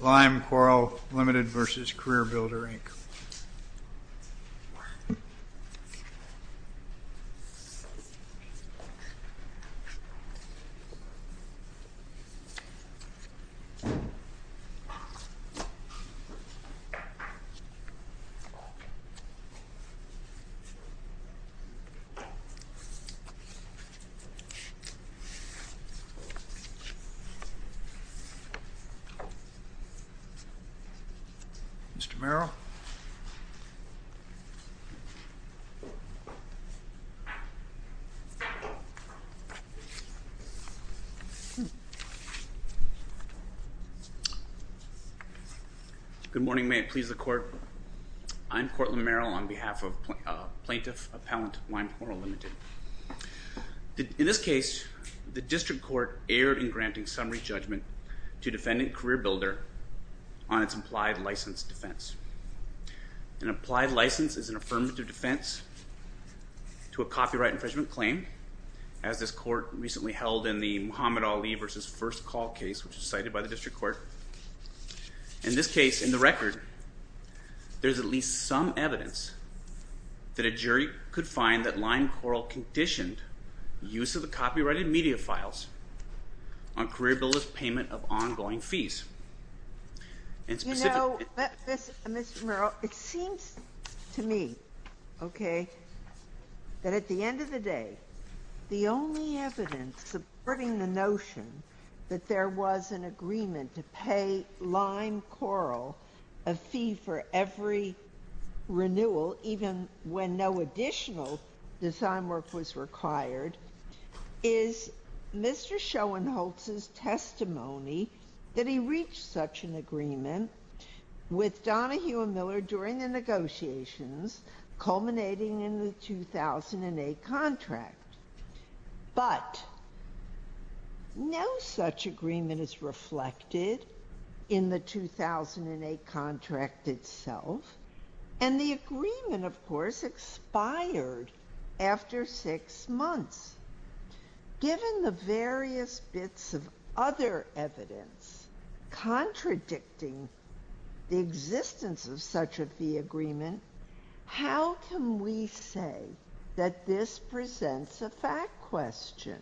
LimeCoral, Ltd. v. CareerBuilder, Inc. Mr. Merrill. Good morning. May it please the Court. I'm Courtland Merrill on behalf of Plaintiff Appellant LimeCoral, Ltd. In this case, the District Court erred in granting summary judgment to Defendant CareerBuilder on its applied license defense. An applied license is an affirmative defense to a copyright infringement claim, as this Court recently held in the Muhammad Ali v. First Call case, which was cited by the District Court. In this case, in the record, there's at least some evidence that a jury could find that LimeCoral conditioned use of the copyrighted media files on CareerBuilder's payment of ongoing fees. You know, Mr. Merrill, it seems to me, okay, that at the end of the day, the only evidence supporting the notion that there was an agreement to pay LimeCoral a fee for every renewal, even when no additional design work was required, is Mr. Schoenholtz's testimony that he reached such an agreement with Donahue & Miller during the negotiations culminating in the 2008 contract. But no such agreement is reflected in the 2008 contract itself, and the agreement, of course, expired after six months. Given the various bits of other evidence contradicting the existence of such a fee agreement, how can we say that this presents a fact question?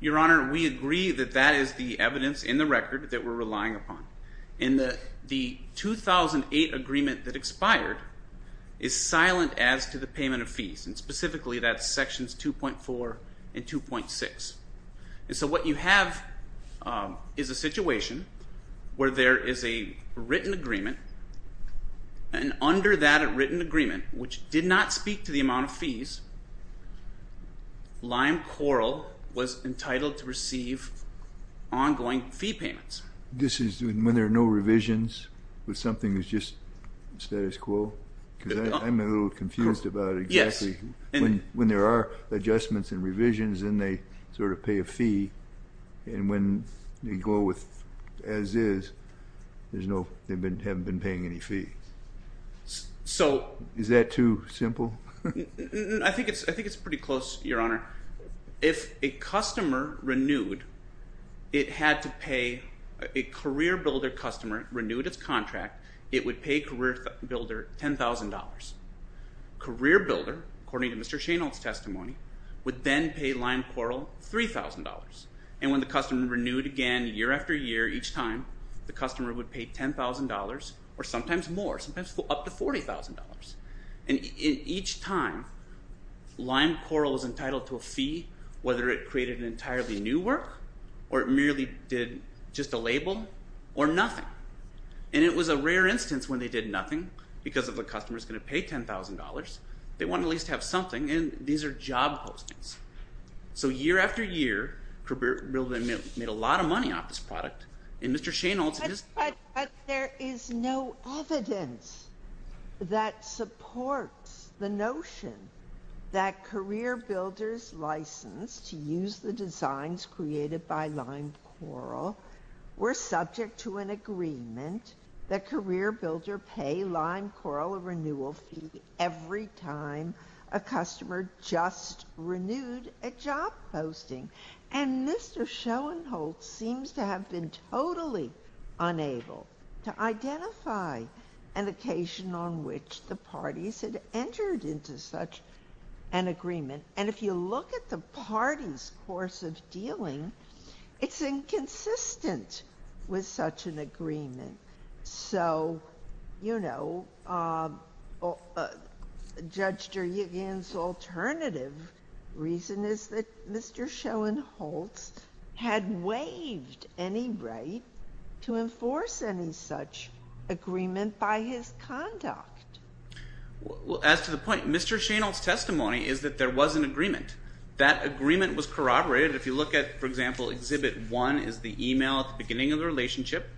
Your Honor, we agree that that is the evidence in the record that we're relying upon. And the 2008 agreement that expired is silent as to the payment of fees, and specifically that's sections 2.4 and 2.6. And so what you have is a situation where there is a written agreement, and under that written agreement, which did not speak to the amount of fees, LimeCoral was entitled to receive ongoing fee payments. This is when there are no revisions with something that's just status quo? Because I'm a little confused about exactly when there are adjustments and revisions, and they sort of pay a fee, and when they go with as is, they haven't been paying any fee. Is that too simple? I think it's pretty close, Your Honor. If a customer renewed, it had to pay a career builder customer, renewed its contract, it would pay a career builder $10,000. Career builder, according to Mr. Shainold's testimony, would then pay LimeCoral $3,000. And when the customer renewed again year after year, each time, the customer would pay $10,000 or sometimes more, sometimes up to $40,000. And each time, LimeCoral was entitled to a fee, whether it created an entirely new work or it merely did just a label or nothing. And it was a rare instance when they did nothing, because if a customer is going to pay $10,000, they want to at least have something, and these are job postings. So year after year, career builder made a lot of money off this product, and Mr. Shainold's… But there is no evidence that supports the notion that career builders licensed to use the designs created by LimeCoral were subject to an agreement that career builder pay LimeCoral a renewal fee every time a customer just renewed a job posting. And Mr. Shainold seems to have been totally unable to identify an occasion on which the parties had entered into such an agreement. And if you look at the parties' course of dealing, it's inconsistent with such an agreement. So, you know, Judge Duryegan's alternative reason is that Mr. Shainold had waived any right to enforce any such agreement by his conduct. Well, as to the point, Mr. Shainold's testimony is that there was an agreement. That agreement was corroborated. If you look at, for example, Exhibit 1 is the email at the beginning of the relationship.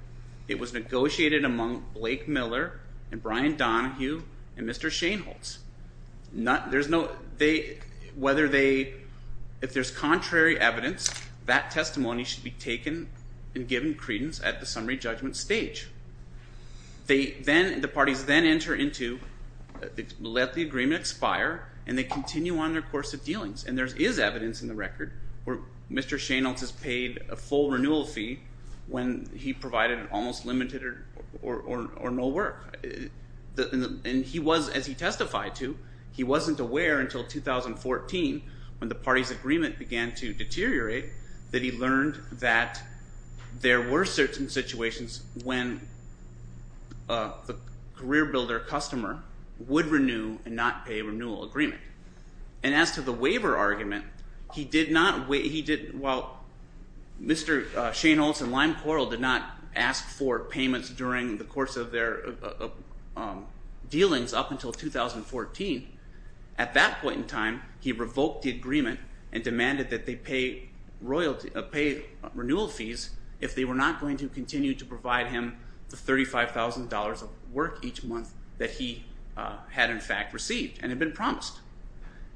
It was negotiated among Blake Miller and Brian Donohue and Mr. Shainold's. There's no… Whether they…if there's contrary evidence, that testimony should be taken and given credence at the summary judgment stage. They then…the parties then enter into…let the agreement expire and they continue on their course of dealings. And there is evidence in the record where Mr. Shainold has paid a full renewal fee when he provided an almost limited or no work. And he was, as he testified to, he wasn't aware until 2014 when the parties' agreement began to deteriorate that he learned that there were certain situations when the career builder customer would renew and not pay a renewal agreement. And as to the waiver argument, he did not…well, Mr. Shainold and Lime Coral did not ask for payments during the course of their dealings up until 2014. At that point in time, he revoked the agreement and demanded that they pay royalty…pay renewal fees if they were not going to continue to provide him the $35,000 of work each month that he had in fact received and had been promised.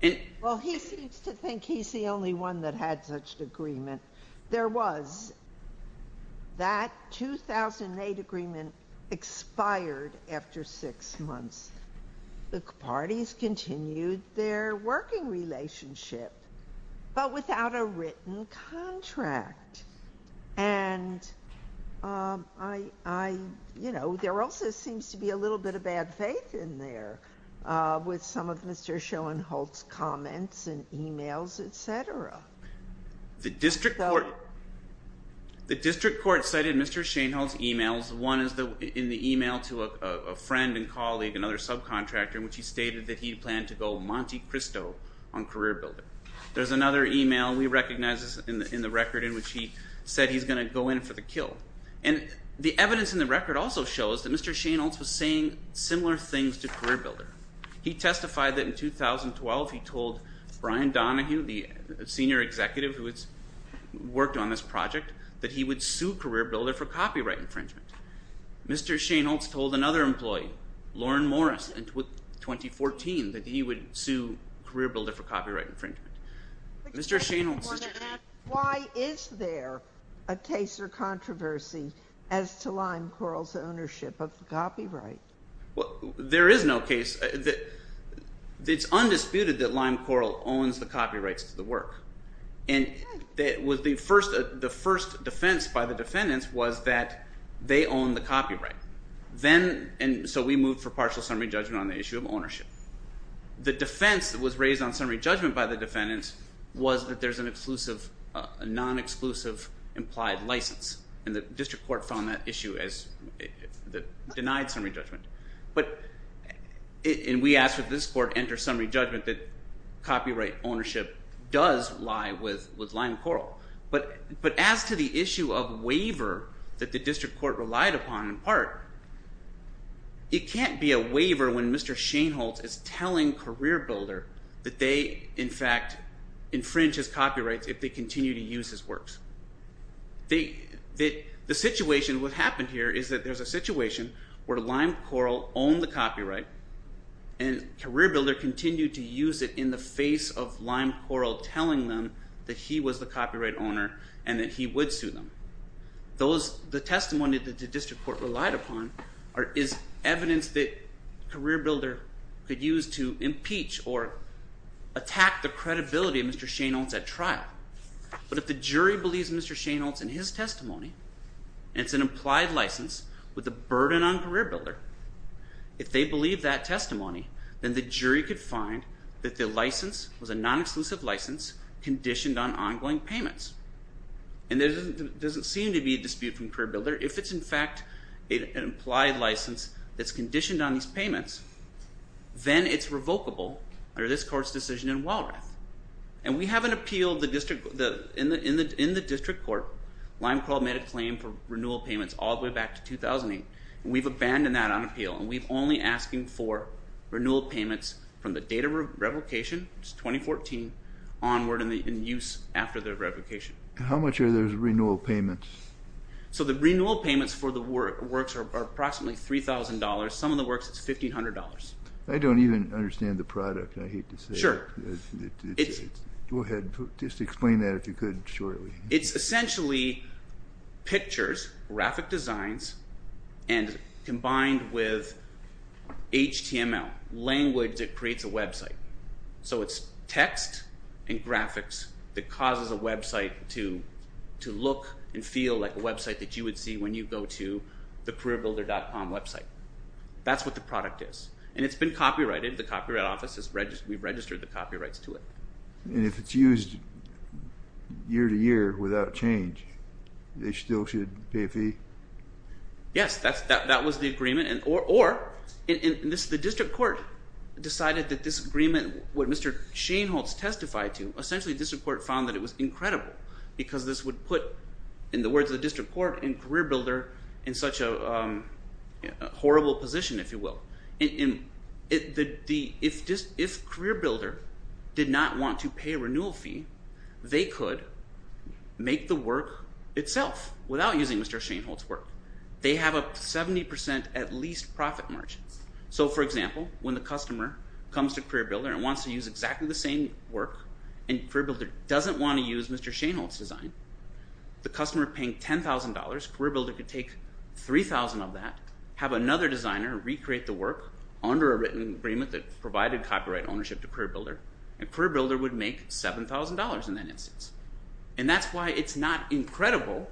And… Well, he seems to think he's the only one that had such agreement. There was. That 2008 agreement expired after six months. The parties continued their working relationship but without a written contract. And I…you know, there also seems to be a little bit of bad faith in there with some of Mr. Schoenholtz's comments and emails, etc. The district court… One is in the email to a friend and colleague, another subcontractor, in which he stated that he planned to go Monte Cristo on career builder. There's another email, we recognize this in the record, in which he said he's going to go in for the kill. And the evidence in the record also shows that Mr. Schoenholtz was saying similar things to career builder. He testified that in 2012 he told Brian Donahue, the senior executive who has worked on this project, that he would sue career builder for copyright infringement. Mr. Schoenholtz told another employee, Lauren Morris, in 2014, that he would sue career builder for copyright infringement. Mr. Schoenholtz… Why is there a case or controversy as to Lime Coral's ownership of the copyright? Well, there is no case. It's undisputed that Lime Coral owns the copyrights to the work. The first defense by the defendants was that they own the copyright. So we moved for partial summary judgment on the issue of ownership. The defense that was raised on summary judgment by the defendants was that there's a non-exclusive implied license, and the district court found that issue as denied summary judgment. And we asked that this court enter summary judgment that copyright ownership does lie with Lime Coral. But as to the issue of waiver that the district court relied upon in part, it can't be a waiver when Mr. Schoenholtz is telling career builder that they, in fact, infringe his copyrights if they continue to use his works. The situation, what happened here, is that there's a situation where Lime Coral owned the copyright and career builder continued to use it in the face of Lime Coral telling them that he was the copyright owner and that he would sue them. The testimony that the district court relied upon is evidence that career builder could use to impeach or attack the credibility of Mr. Schoenholtz at trial. But if the jury believes Mr. Schoenholtz in his testimony, and it's an implied license with a burden on career builder, if they believe that testimony, then the jury could find that the license was a non-exclusive license conditioned on ongoing payments. And there doesn't seem to be a dispute from career builder. If it's, in fact, an implied license that's conditioned on these payments, then it's revocable under this court's decision in Walrath. And we have an appeal in the district court. Lime Coral made a claim for renewal payments all the way back to 2008. We've abandoned that on appeal, and we're only asking for renewal payments from the date of revocation, which is 2014, onward in use after the revocation. How much are those renewal payments? So the renewal payments for the works are approximately $3,000. Some of the works, it's $1,500. I don't even understand the product, I hate to say it. Go ahead, just explain that if you could shortly. It's essentially pictures, graphic designs, and combined with HTML, language that creates a website. So it's text and graphics that causes a website to look and feel like a website that you would see when you go to the careerbuilder.com website. That's what the product is, and it's been copyrighted. The Copyright Office, we've registered the copyrights to it. And if it's used year-to-year without change, they still should pay a fee? Yes, that was the agreement. Or the district court decided that this agreement, what Mr. Shainholz testified to, essentially the district court found that it was incredible because this would put, in the words of the district court, a career builder in such a horrible position, if you will. If CareerBuilder did not want to pay a renewal fee, they could make the work itself without using Mr. Shainholz's work. They have a 70% at least profit margin. So, for example, when the customer comes to CareerBuilder and wants to use exactly the same work, and CareerBuilder doesn't want to use Mr. Shainholz's design, the customer paying $10,000, CareerBuilder could take $3,000 of that, have another designer recreate the work under a written agreement that provided copyright ownership to CareerBuilder, and CareerBuilder would make $7,000 in that instance. And that's why it's not incredible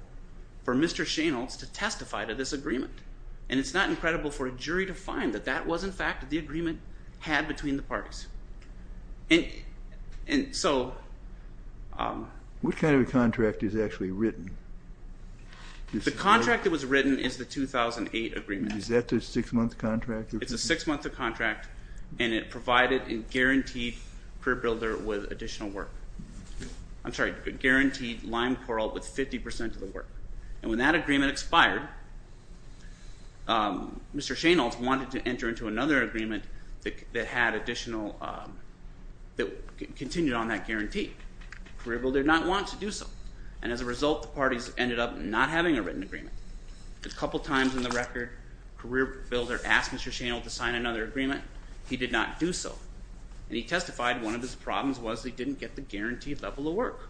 for Mr. Shainholz to testify to this agreement. And it's not incredible for a jury to find that that was, in fact, the agreement had between the parties. And so... What kind of a contract is actually written? The contract that was written is the 2008 agreement. Is that a six-month contract? It's a six-month contract, and it provided and guaranteed CareerBuilder with additional work. I'm sorry, guaranteed Lime Coral with 50% of the work. And when that agreement expired, Mr. Shainholz wanted to enter into another agreement that had additional, that continued on that guarantee. CareerBuilder did not want to do so. And as a result, the parties ended up not having a written agreement. A couple of times in the record, CareerBuilder asked Mr. Shainholz to sign another agreement. He did not do so. And he testified one of his problems was he didn't get the guaranteed level of work.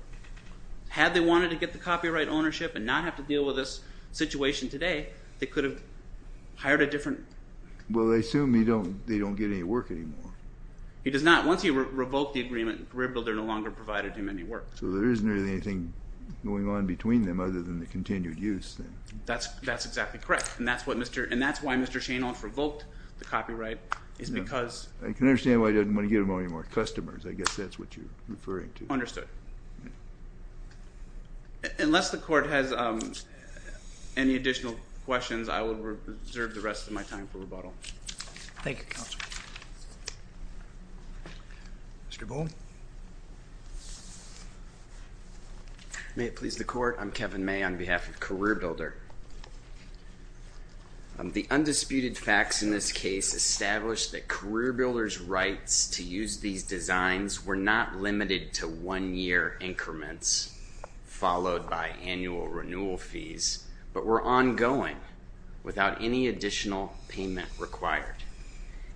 Had they wanted to get the copyright ownership and not have to deal with this situation today, they could have hired a different... Well, they assume they don't get any work anymore. He does not. Once he revoked the agreement, CareerBuilder no longer provided him any work. So there isn't really anything going on between them other than the continued use, then. That's exactly correct. And that's why Mr. Shainholz revoked the copyright, is because... I can understand why he doesn't want to give him any more customers. I guess that's what you're referring to. Understood. Unless the court has any additional questions, I will reserve the rest of my time for rebuttal. Thank you, Counselor. Mr. Bull. May it please the Court. I'm Kevin May on behalf of CareerBuilder. The undisputed facts in this case establish that CareerBuilder's rights to use these designs were not limited to one-year increments followed by annual renewal fees, but were ongoing without any additional payment required.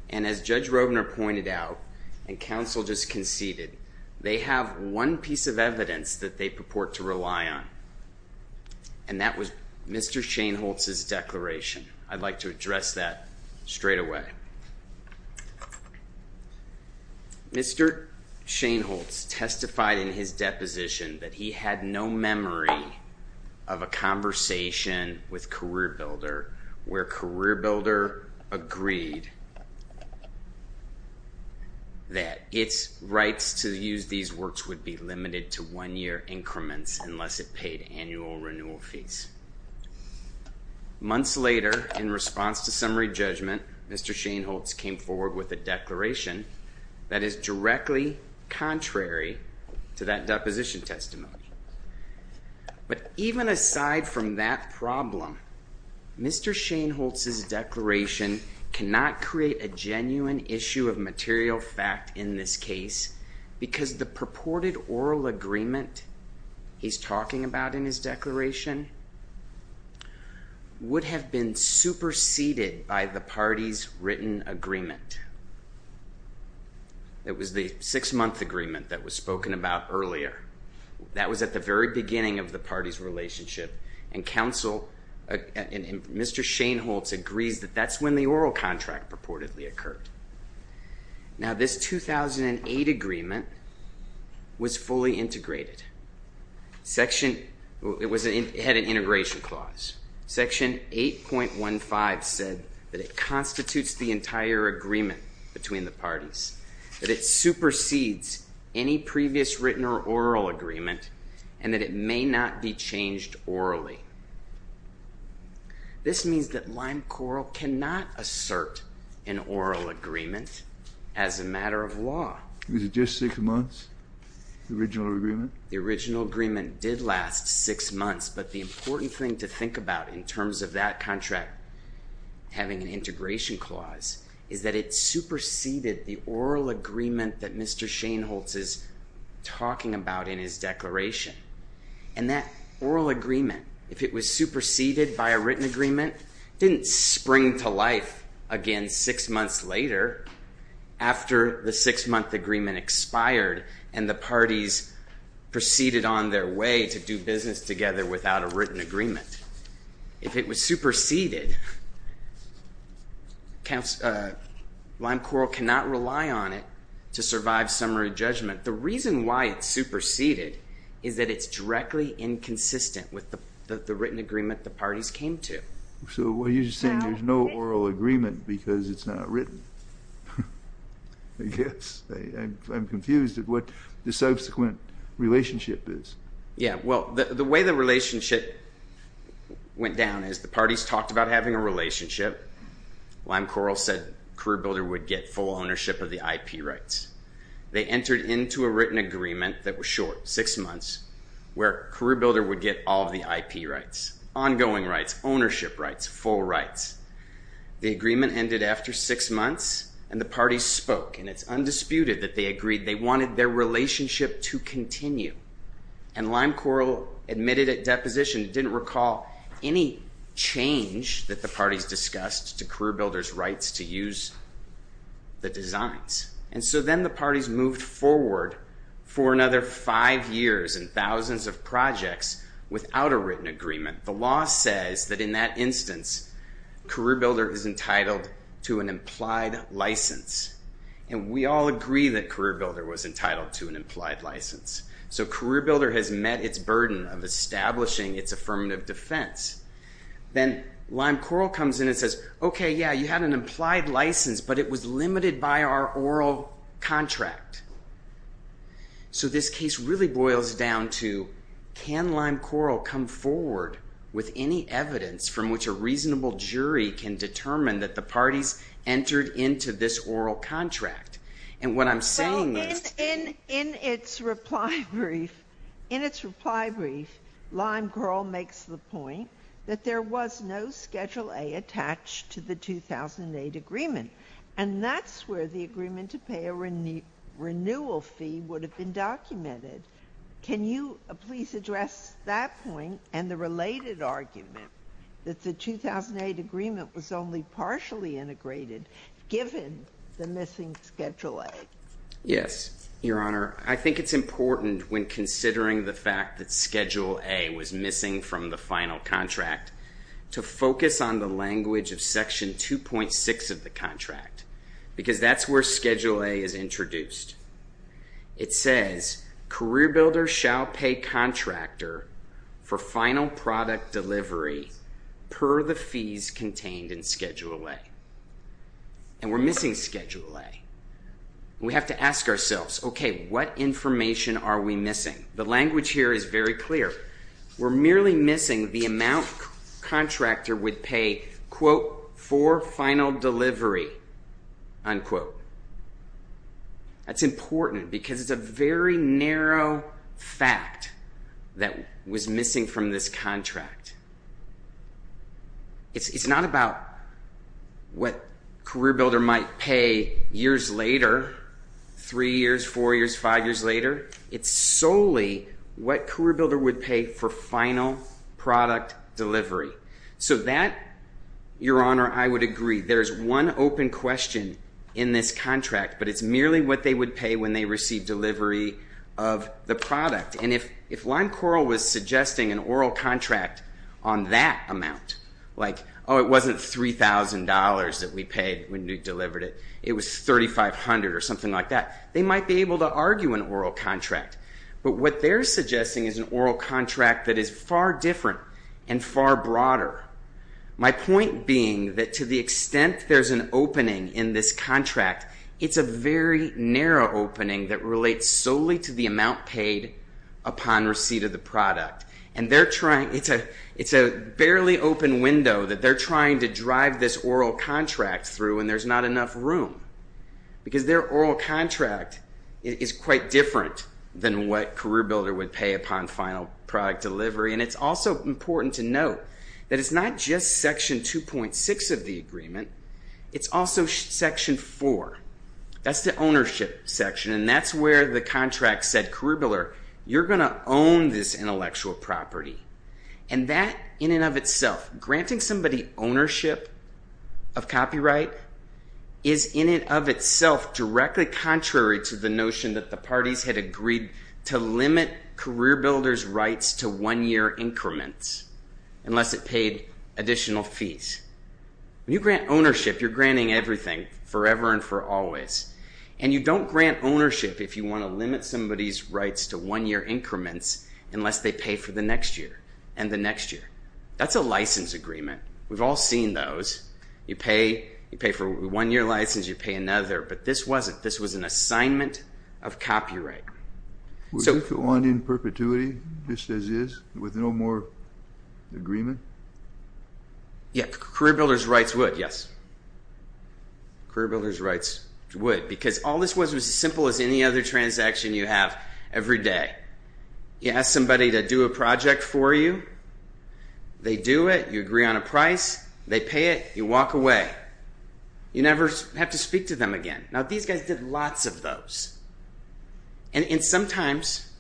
And as Judge Roebner pointed out, and Counsel just conceded, they have one piece of evidence that they purport to rely on, and that was Mr. Shainholz's declaration. I'd like to address that straightaway. Mr. Shainholz testified in his deposition that he had no memory of a decade that its rights to use these works would be limited to one-year increments unless it paid annual renewal fees. Months later, in response to summary judgment, Mr. Shainholz came forward with a declaration that is directly contrary to that deposition testimony. Mr. Shainholz's declaration cannot create a genuine issue of material fact in this case because the purported oral agreement he's talking about in his declaration would have been superseded by the party's written agreement. It was the six-month agreement that was spoken about earlier. That was at the very beginning of the party's relationship, and Mr. Shainholz agrees that that's when the oral contract purportedly occurred. Now, this 2008 agreement was fully integrated. It had an integration clause. Section 8.15 said that it constitutes the entire agreement between the parties, that it supersedes any previous written or oral agreement, and that it may not be changed orally. This means that Lime Coral cannot assert an oral agreement as a matter of law. Was it just six months, the original agreement? The original agreement did last six months, but the important thing to think about in terms of that contract having an integration clause is that it superseded the oral agreement that Mr. Shainholz is talking about in his declaration, and that oral agreement, if it was superseded by a written agreement, didn't spring to life again six months later after the six-month agreement expired and the parties proceeded on their way to do business together without a written agreement. If it was superseded, Lime Coral cannot rely on it to survive summary judgment. The reason why it's superseded is that it's directly inconsistent with the written agreement the parties came to. So you're just saying there's no oral agreement because it's not written, I guess. I'm confused at what the subsequent relationship is. Yeah, well, the way the relationship went down is the parties talked about having a relationship. Lime Coral said CareerBuilder would get full ownership of the IP rights. They entered into a written agreement that was short, six months, where CareerBuilder would get all the IP rights, ongoing rights, ownership rights, full rights. The agreement ended after six months, and the parties spoke, and it's undisputed that they agreed they wanted their relationship to continue. And Lime Coral admitted at deposition it didn't recall any change that the parties discussed to CareerBuilder's rights to use the designs. And so then the parties moved forward for another five years and thousands of projects without a written agreement. The law says that in that instance, CareerBuilder is entitled to an implied license. And we all agree that CareerBuilder was entitled to an implied license. So CareerBuilder has met its burden of establishing its affirmative defense. Then Lime Coral comes in and says, okay, yeah, you had an implied license, but it was limited by our oral contract. So this case really boils down to can Lime Coral come forward with any evidence from which a reasonable jury can determine that the parties entered into this oral contract? And what I'm saying is to you. So in its reply brief, in its reply brief, Lime Coral makes the point that there was no Schedule A attached to the contract. And that's where the agreement to pay a renewal fee would have been documented. Can you please address that point and the related argument that the 2008 agreement was only partially integrated given the missing Schedule A? Yes, Your Honor. I think it's important when considering the fact that Schedule A was missing from the final contract to focus on the language of Section 2.6 of the contract because that's where Schedule A is introduced. It says, career builder shall pay contractor for final product delivery per the fees contained in Schedule A. And we're missing Schedule A. We have to ask ourselves, okay, what information are we missing? The language here is very clear. We're merely missing the amount contractor would pay, quote, for final delivery, unquote. That's important because it's a very narrow fact that was missing from this contract. It's not about what career builder might pay years later, three years, four years, five years later. It's solely what career builder would pay for final product delivery. So that, Your Honor, I would agree. There's one open question in this contract, but it's merely what they would pay when they receive delivery of the product. And if Lime Coral was suggesting an oral contract on that amount, like, oh, it wasn't $3,000 that we paid when we delivered it. It was $3,500 or something like that. They might be able to argue an oral contract. But what they're suggesting is an oral contract that is far different and far broader. My point being that to the extent there's an opening in this contract, it's a very narrow opening that relates solely to the amount paid upon receipt of the product. And it's a barely open window that they're trying to drive this oral contract through, and there's not enough room. Because their oral contract is quite different than what career builder would pay upon final product delivery. And it's also important to note that it's not just Section 2.6 of the agreement. It's also Section 4. That's the ownership section, and that's where the contract said, career builder, you're going to own this intellectual property. And that in and of itself, granting somebody ownership of copyright is in and of itself directly contrary to the notion that the parties had agreed to limit career builder's rights to one-year increments unless it paid additional fees. When you grant ownership, you're granting everything forever and for always. And you don't grant ownership if you want to limit somebody's rights to one-year increments unless they pay for the next year and the next year. That's a license agreement. We've all seen those. You pay for a one-year license, you pay another. But this wasn't. This was an assignment of copyright. Would it go on in perpetuity just as is with no more agreement? Yeah, career builder's rights would, yes. Career builder's rights would because all this was was as simple as any other transaction you have every day. You ask somebody to do a project for you, they do it, you agree on a price, they pay it, you walk away. You never have to speak to them again. Now these guys did lots of those. And sometimes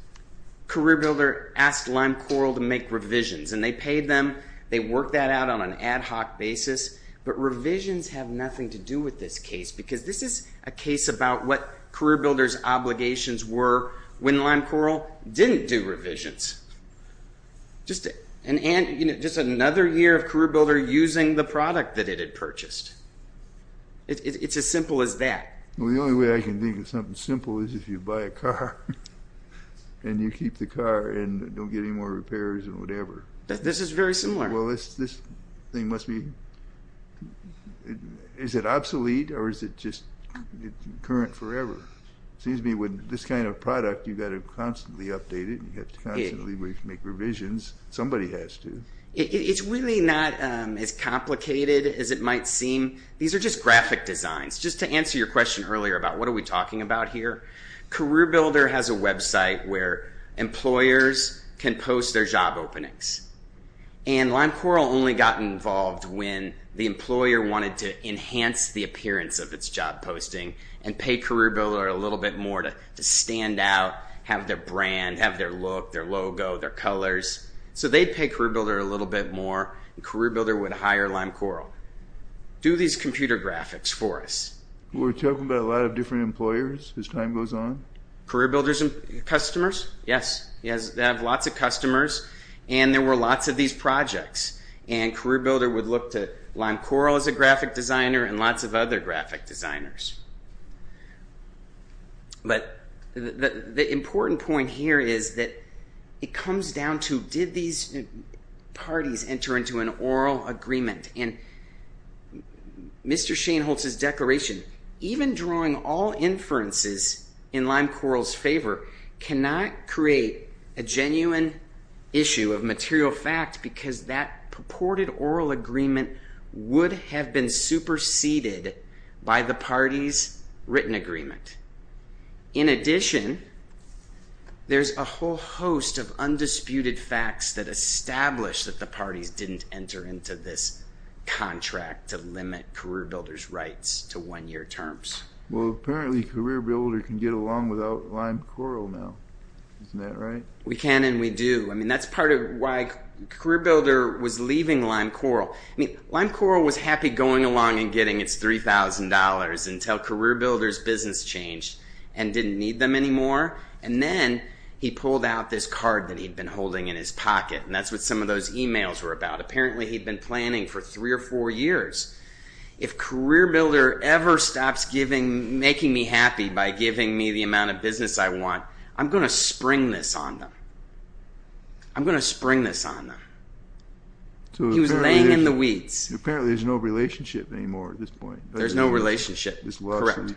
career builder asked Lime Coral to make revisions and they paid them, they worked that out on an ad hoc basis. But revisions have nothing to do with this case because this is a case about what career builder's obligations were when Lime Coral didn't do revisions. Just another year of career builder using the product that it had purchased. It's as simple as that. Well, the only way I can think of something simple is if you buy a car and you keep the car and don't get any more repairs or whatever. This is very similar. Well, this thing must be, is it obsolete or is it just current forever? Seems to me with this kind of product you've got to constantly update it and you have to constantly make revisions. Somebody has to. It's really not as complicated as it might seem. These are just graphic designs. Just to answer your question earlier about what are we talking about here, career builder has a website where employers can post their job openings. And Lime Coral only got involved when the employer wanted to enhance the appearance of its job posting and pay career builder a little bit more to stand out, have their brand, have their look, their logo, their colors. So they'd pay career builder a little bit more and career builder would hire Lime Coral. Do these computer graphics for us. We're talking about a lot of different employers as time goes on? Career builders and customers, yes. They have lots of customers and there were lots of these projects. And career builder would look to Lime Coral as a graphic designer and lots of other graphic designers. But the important point here is that it comes down to did these parties enter into an oral agreement? And Mr. Shainholz's declaration, even drawing all inferences in Lime Coral's favor cannot create a genuine issue of material fact because that purported oral agreement would have been superseded by the party's written agreement. In addition, there's a whole host of undisputed facts that establish that the parties didn't enter into this contract to limit career builder's rights to one-year terms. Well, apparently career builder can get along without Lime Coral now. Isn't that right? We can and we do. I mean that's part of why career builder was leaving Lime Coral. Lime Coral was happy going along and getting its $3,000 until career builder's business changed and didn't need them anymore. And then he pulled out this card that he'd been holding in his pocket and that's what some of those emails were about. Apparently he'd been planning for three or four years. If career builder ever stops making me happy by giving me the amount of I'm going to spring this on them. He was laying in the weeds. Apparently there's no relationship anymore at this point. There's no relationship. Correct.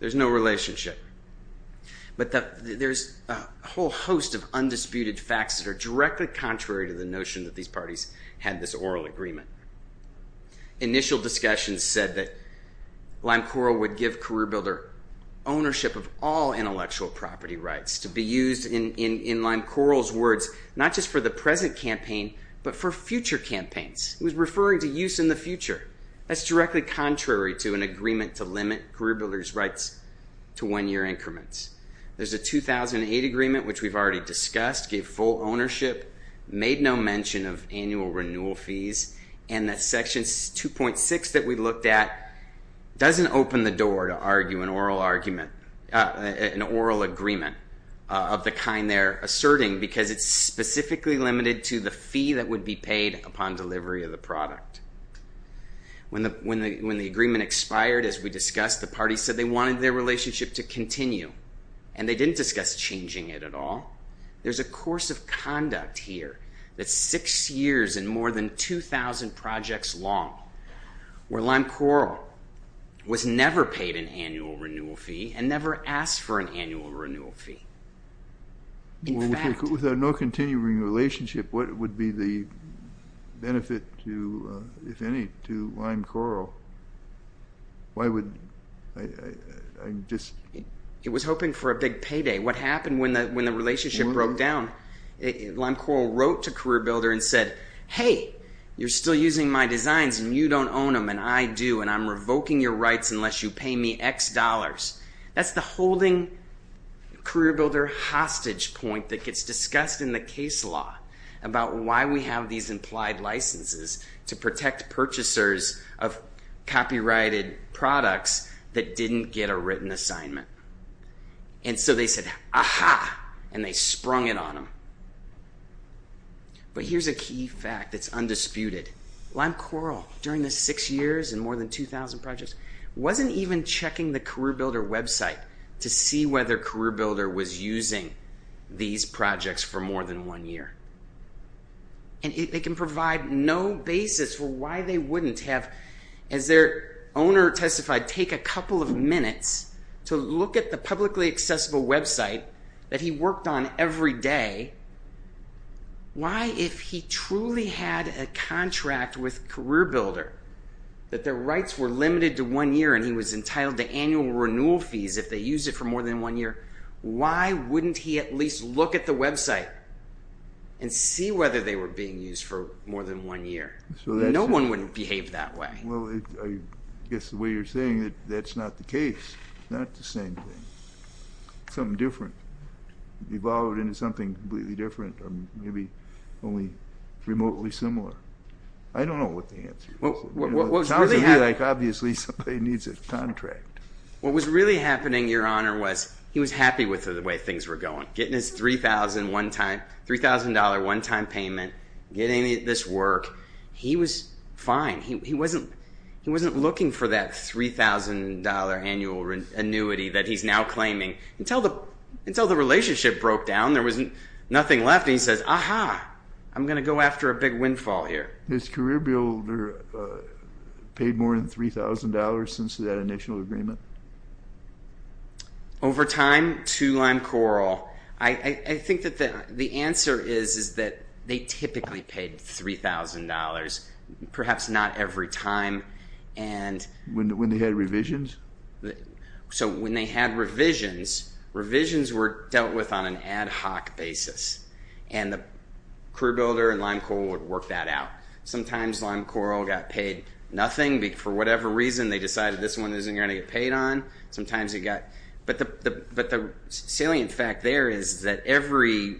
There's no relationship. But there's a whole host of undisputed facts that are directly contrary to the notion that these parties had this oral agreement. Initial discussions said that Lime Coral would give career builder ownership of all intellectual property rights to be used in Lime Coral's words not just for the present campaign but for future campaigns. He was referring to use in the future. That's directly contrary to an agreement to limit career builder's rights to one-year increments. There's a 2008 agreement which we've already discussed, gave full ownership, made no mention of annual renewal fees and that section 2.6 that we looked at doesn't open the door to argue an oral agreement of the kind they're asserting because it's specifically limited to the fee that would be paid upon delivery of the product. When the agreement expired as we discussed, the party said they wanted their relationship to continue and they didn't discuss changing it at all. There's a course of conduct here that's six years and more than 2,000 projects long where Lime Coral was never paid an annual renewal fee and never asked for an annual renewal fee. Without no continuing relationship, what would be the benefit, if any, to Lime Coral? It was hoping for a big payday. What happened when the relationship broke down? Lime Coral wrote to CareerBuilder and said, hey, you're still using my designs and you don't own them and I do and I'm revoking your rights unless you pay me X dollars. That's the holding CareerBuilder hostage point that gets discussed in the case law about why we have these implied licenses to protect purchasers of copyrighted products that didn't get a written assignment. And so they said, aha, and they sprung it on them. But here's a key fact that's undisputed. Lime Coral, during the six years and more than 2,000 projects, wasn't even checking the CareerBuilder website to see whether CareerBuilder was using these projects for more than one year. They can provide no basis for why they wouldn't have, as their owner testified, take a couple of minutes to look at the publicly accessible website that he worked on every day. Why, if he truly had a contract with CareerBuilder, that their rights were limited to one year and he was entitled to annual renewal fees if they used it for more than one year, why wouldn't he at least look at the website and see whether they were being used for more than one year? No one wouldn't behave that way. Well, I guess the way you're saying it, that's not the case. It's not the same thing. It's something different, evolved into something completely different, maybe only remotely similar. I don't know what the answer is. It sounds to me like obviously somebody needs a contract. What was really happening, Your Honor, was he was happy with the way things were going, getting his $3,000 one-time payment, getting this work. He was fine. He wasn't looking for that $3,000 annual annuity that he's now claiming. Until the relationship broke down, there was nothing left, and he says, aha, I'm going to go after a big windfall here. Has CareerBuilder paid more than $3,000 since that initial agreement? Over time, to lime coral. I think that the answer is that they typically paid $3,000, perhaps not every time. When they had revisions? So when they had revisions, revisions were dealt with on an ad hoc basis, and the CareerBuilder and lime coral would work that out. Sometimes lime coral got paid nothing. For whatever reason, they decided this one isn't going to get paid on. But the salient fact there is that every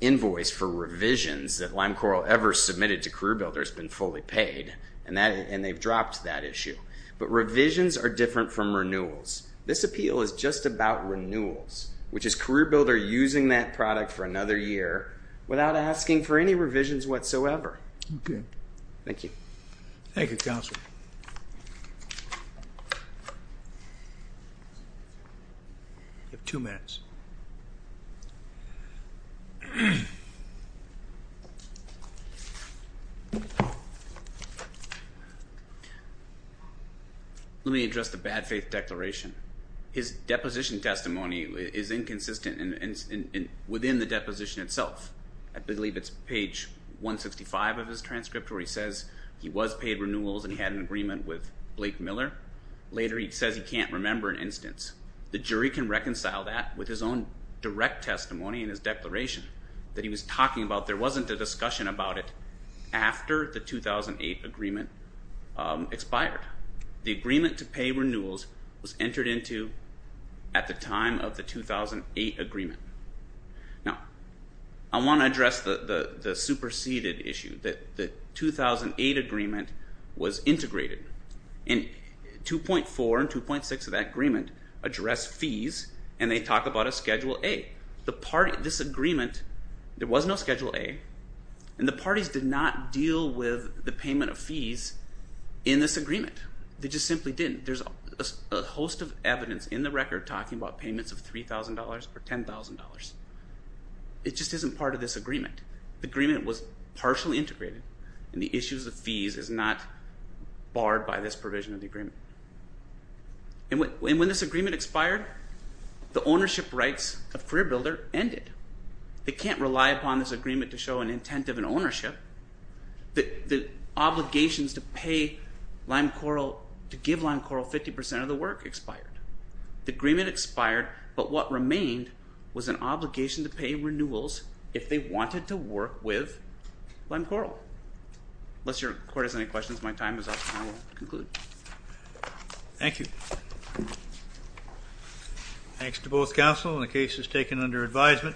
invoice for revisions that lime coral ever submitted to CareerBuilder has been fully paid, and they've dropped that issue. But revisions are different from renewals. This appeal is just about renewals, which is CareerBuilder using that product for another year without asking for any revisions whatsoever. Okay. Thank you. Thank you, Counselor. You have two minutes. Let me address the bad faith declaration. His deposition testimony is inconsistent within the deposition itself. I believe it's page 165 of his transcript where he says he was paid renewals and he had an agreement with Blake Miller. Later he says he can't remember an instance. The jury can reconcile that with his own direct testimony in his declaration that he was talking about. There wasn't a discussion about it after the 2008 agreement expired. The agreement to pay renewals was entered into at the time of the 2008 agreement. Now, I want to address the superseded issue, that the 2008 agreement was integrated. 2.4 and 2.6 of that agreement address fees, and they talk about a Schedule A. This agreement, there was no Schedule A, and the parties did not deal with the payment of fees in this agreement. They just simply didn't. There's a host of evidence in the record talking about payments of $3,000 or $10,000. It just isn't part of this agreement. The agreement was partially integrated, and the issues of fees is not barred by this provision of the agreement. And when this agreement expired, the ownership rights of CareerBuilder ended. They can't rely upon this agreement to show an intent of an ownership. The obligations to pay LimeCoral, to give LimeCoral 50% of the work expired. The agreement expired, but what remained was an obligation to pay renewals if they wanted to work with LimeCoral. Unless your court has any questions, my time is up, and I will conclude. Thank you. Thanks to both counsel, and the case is taken under advisement.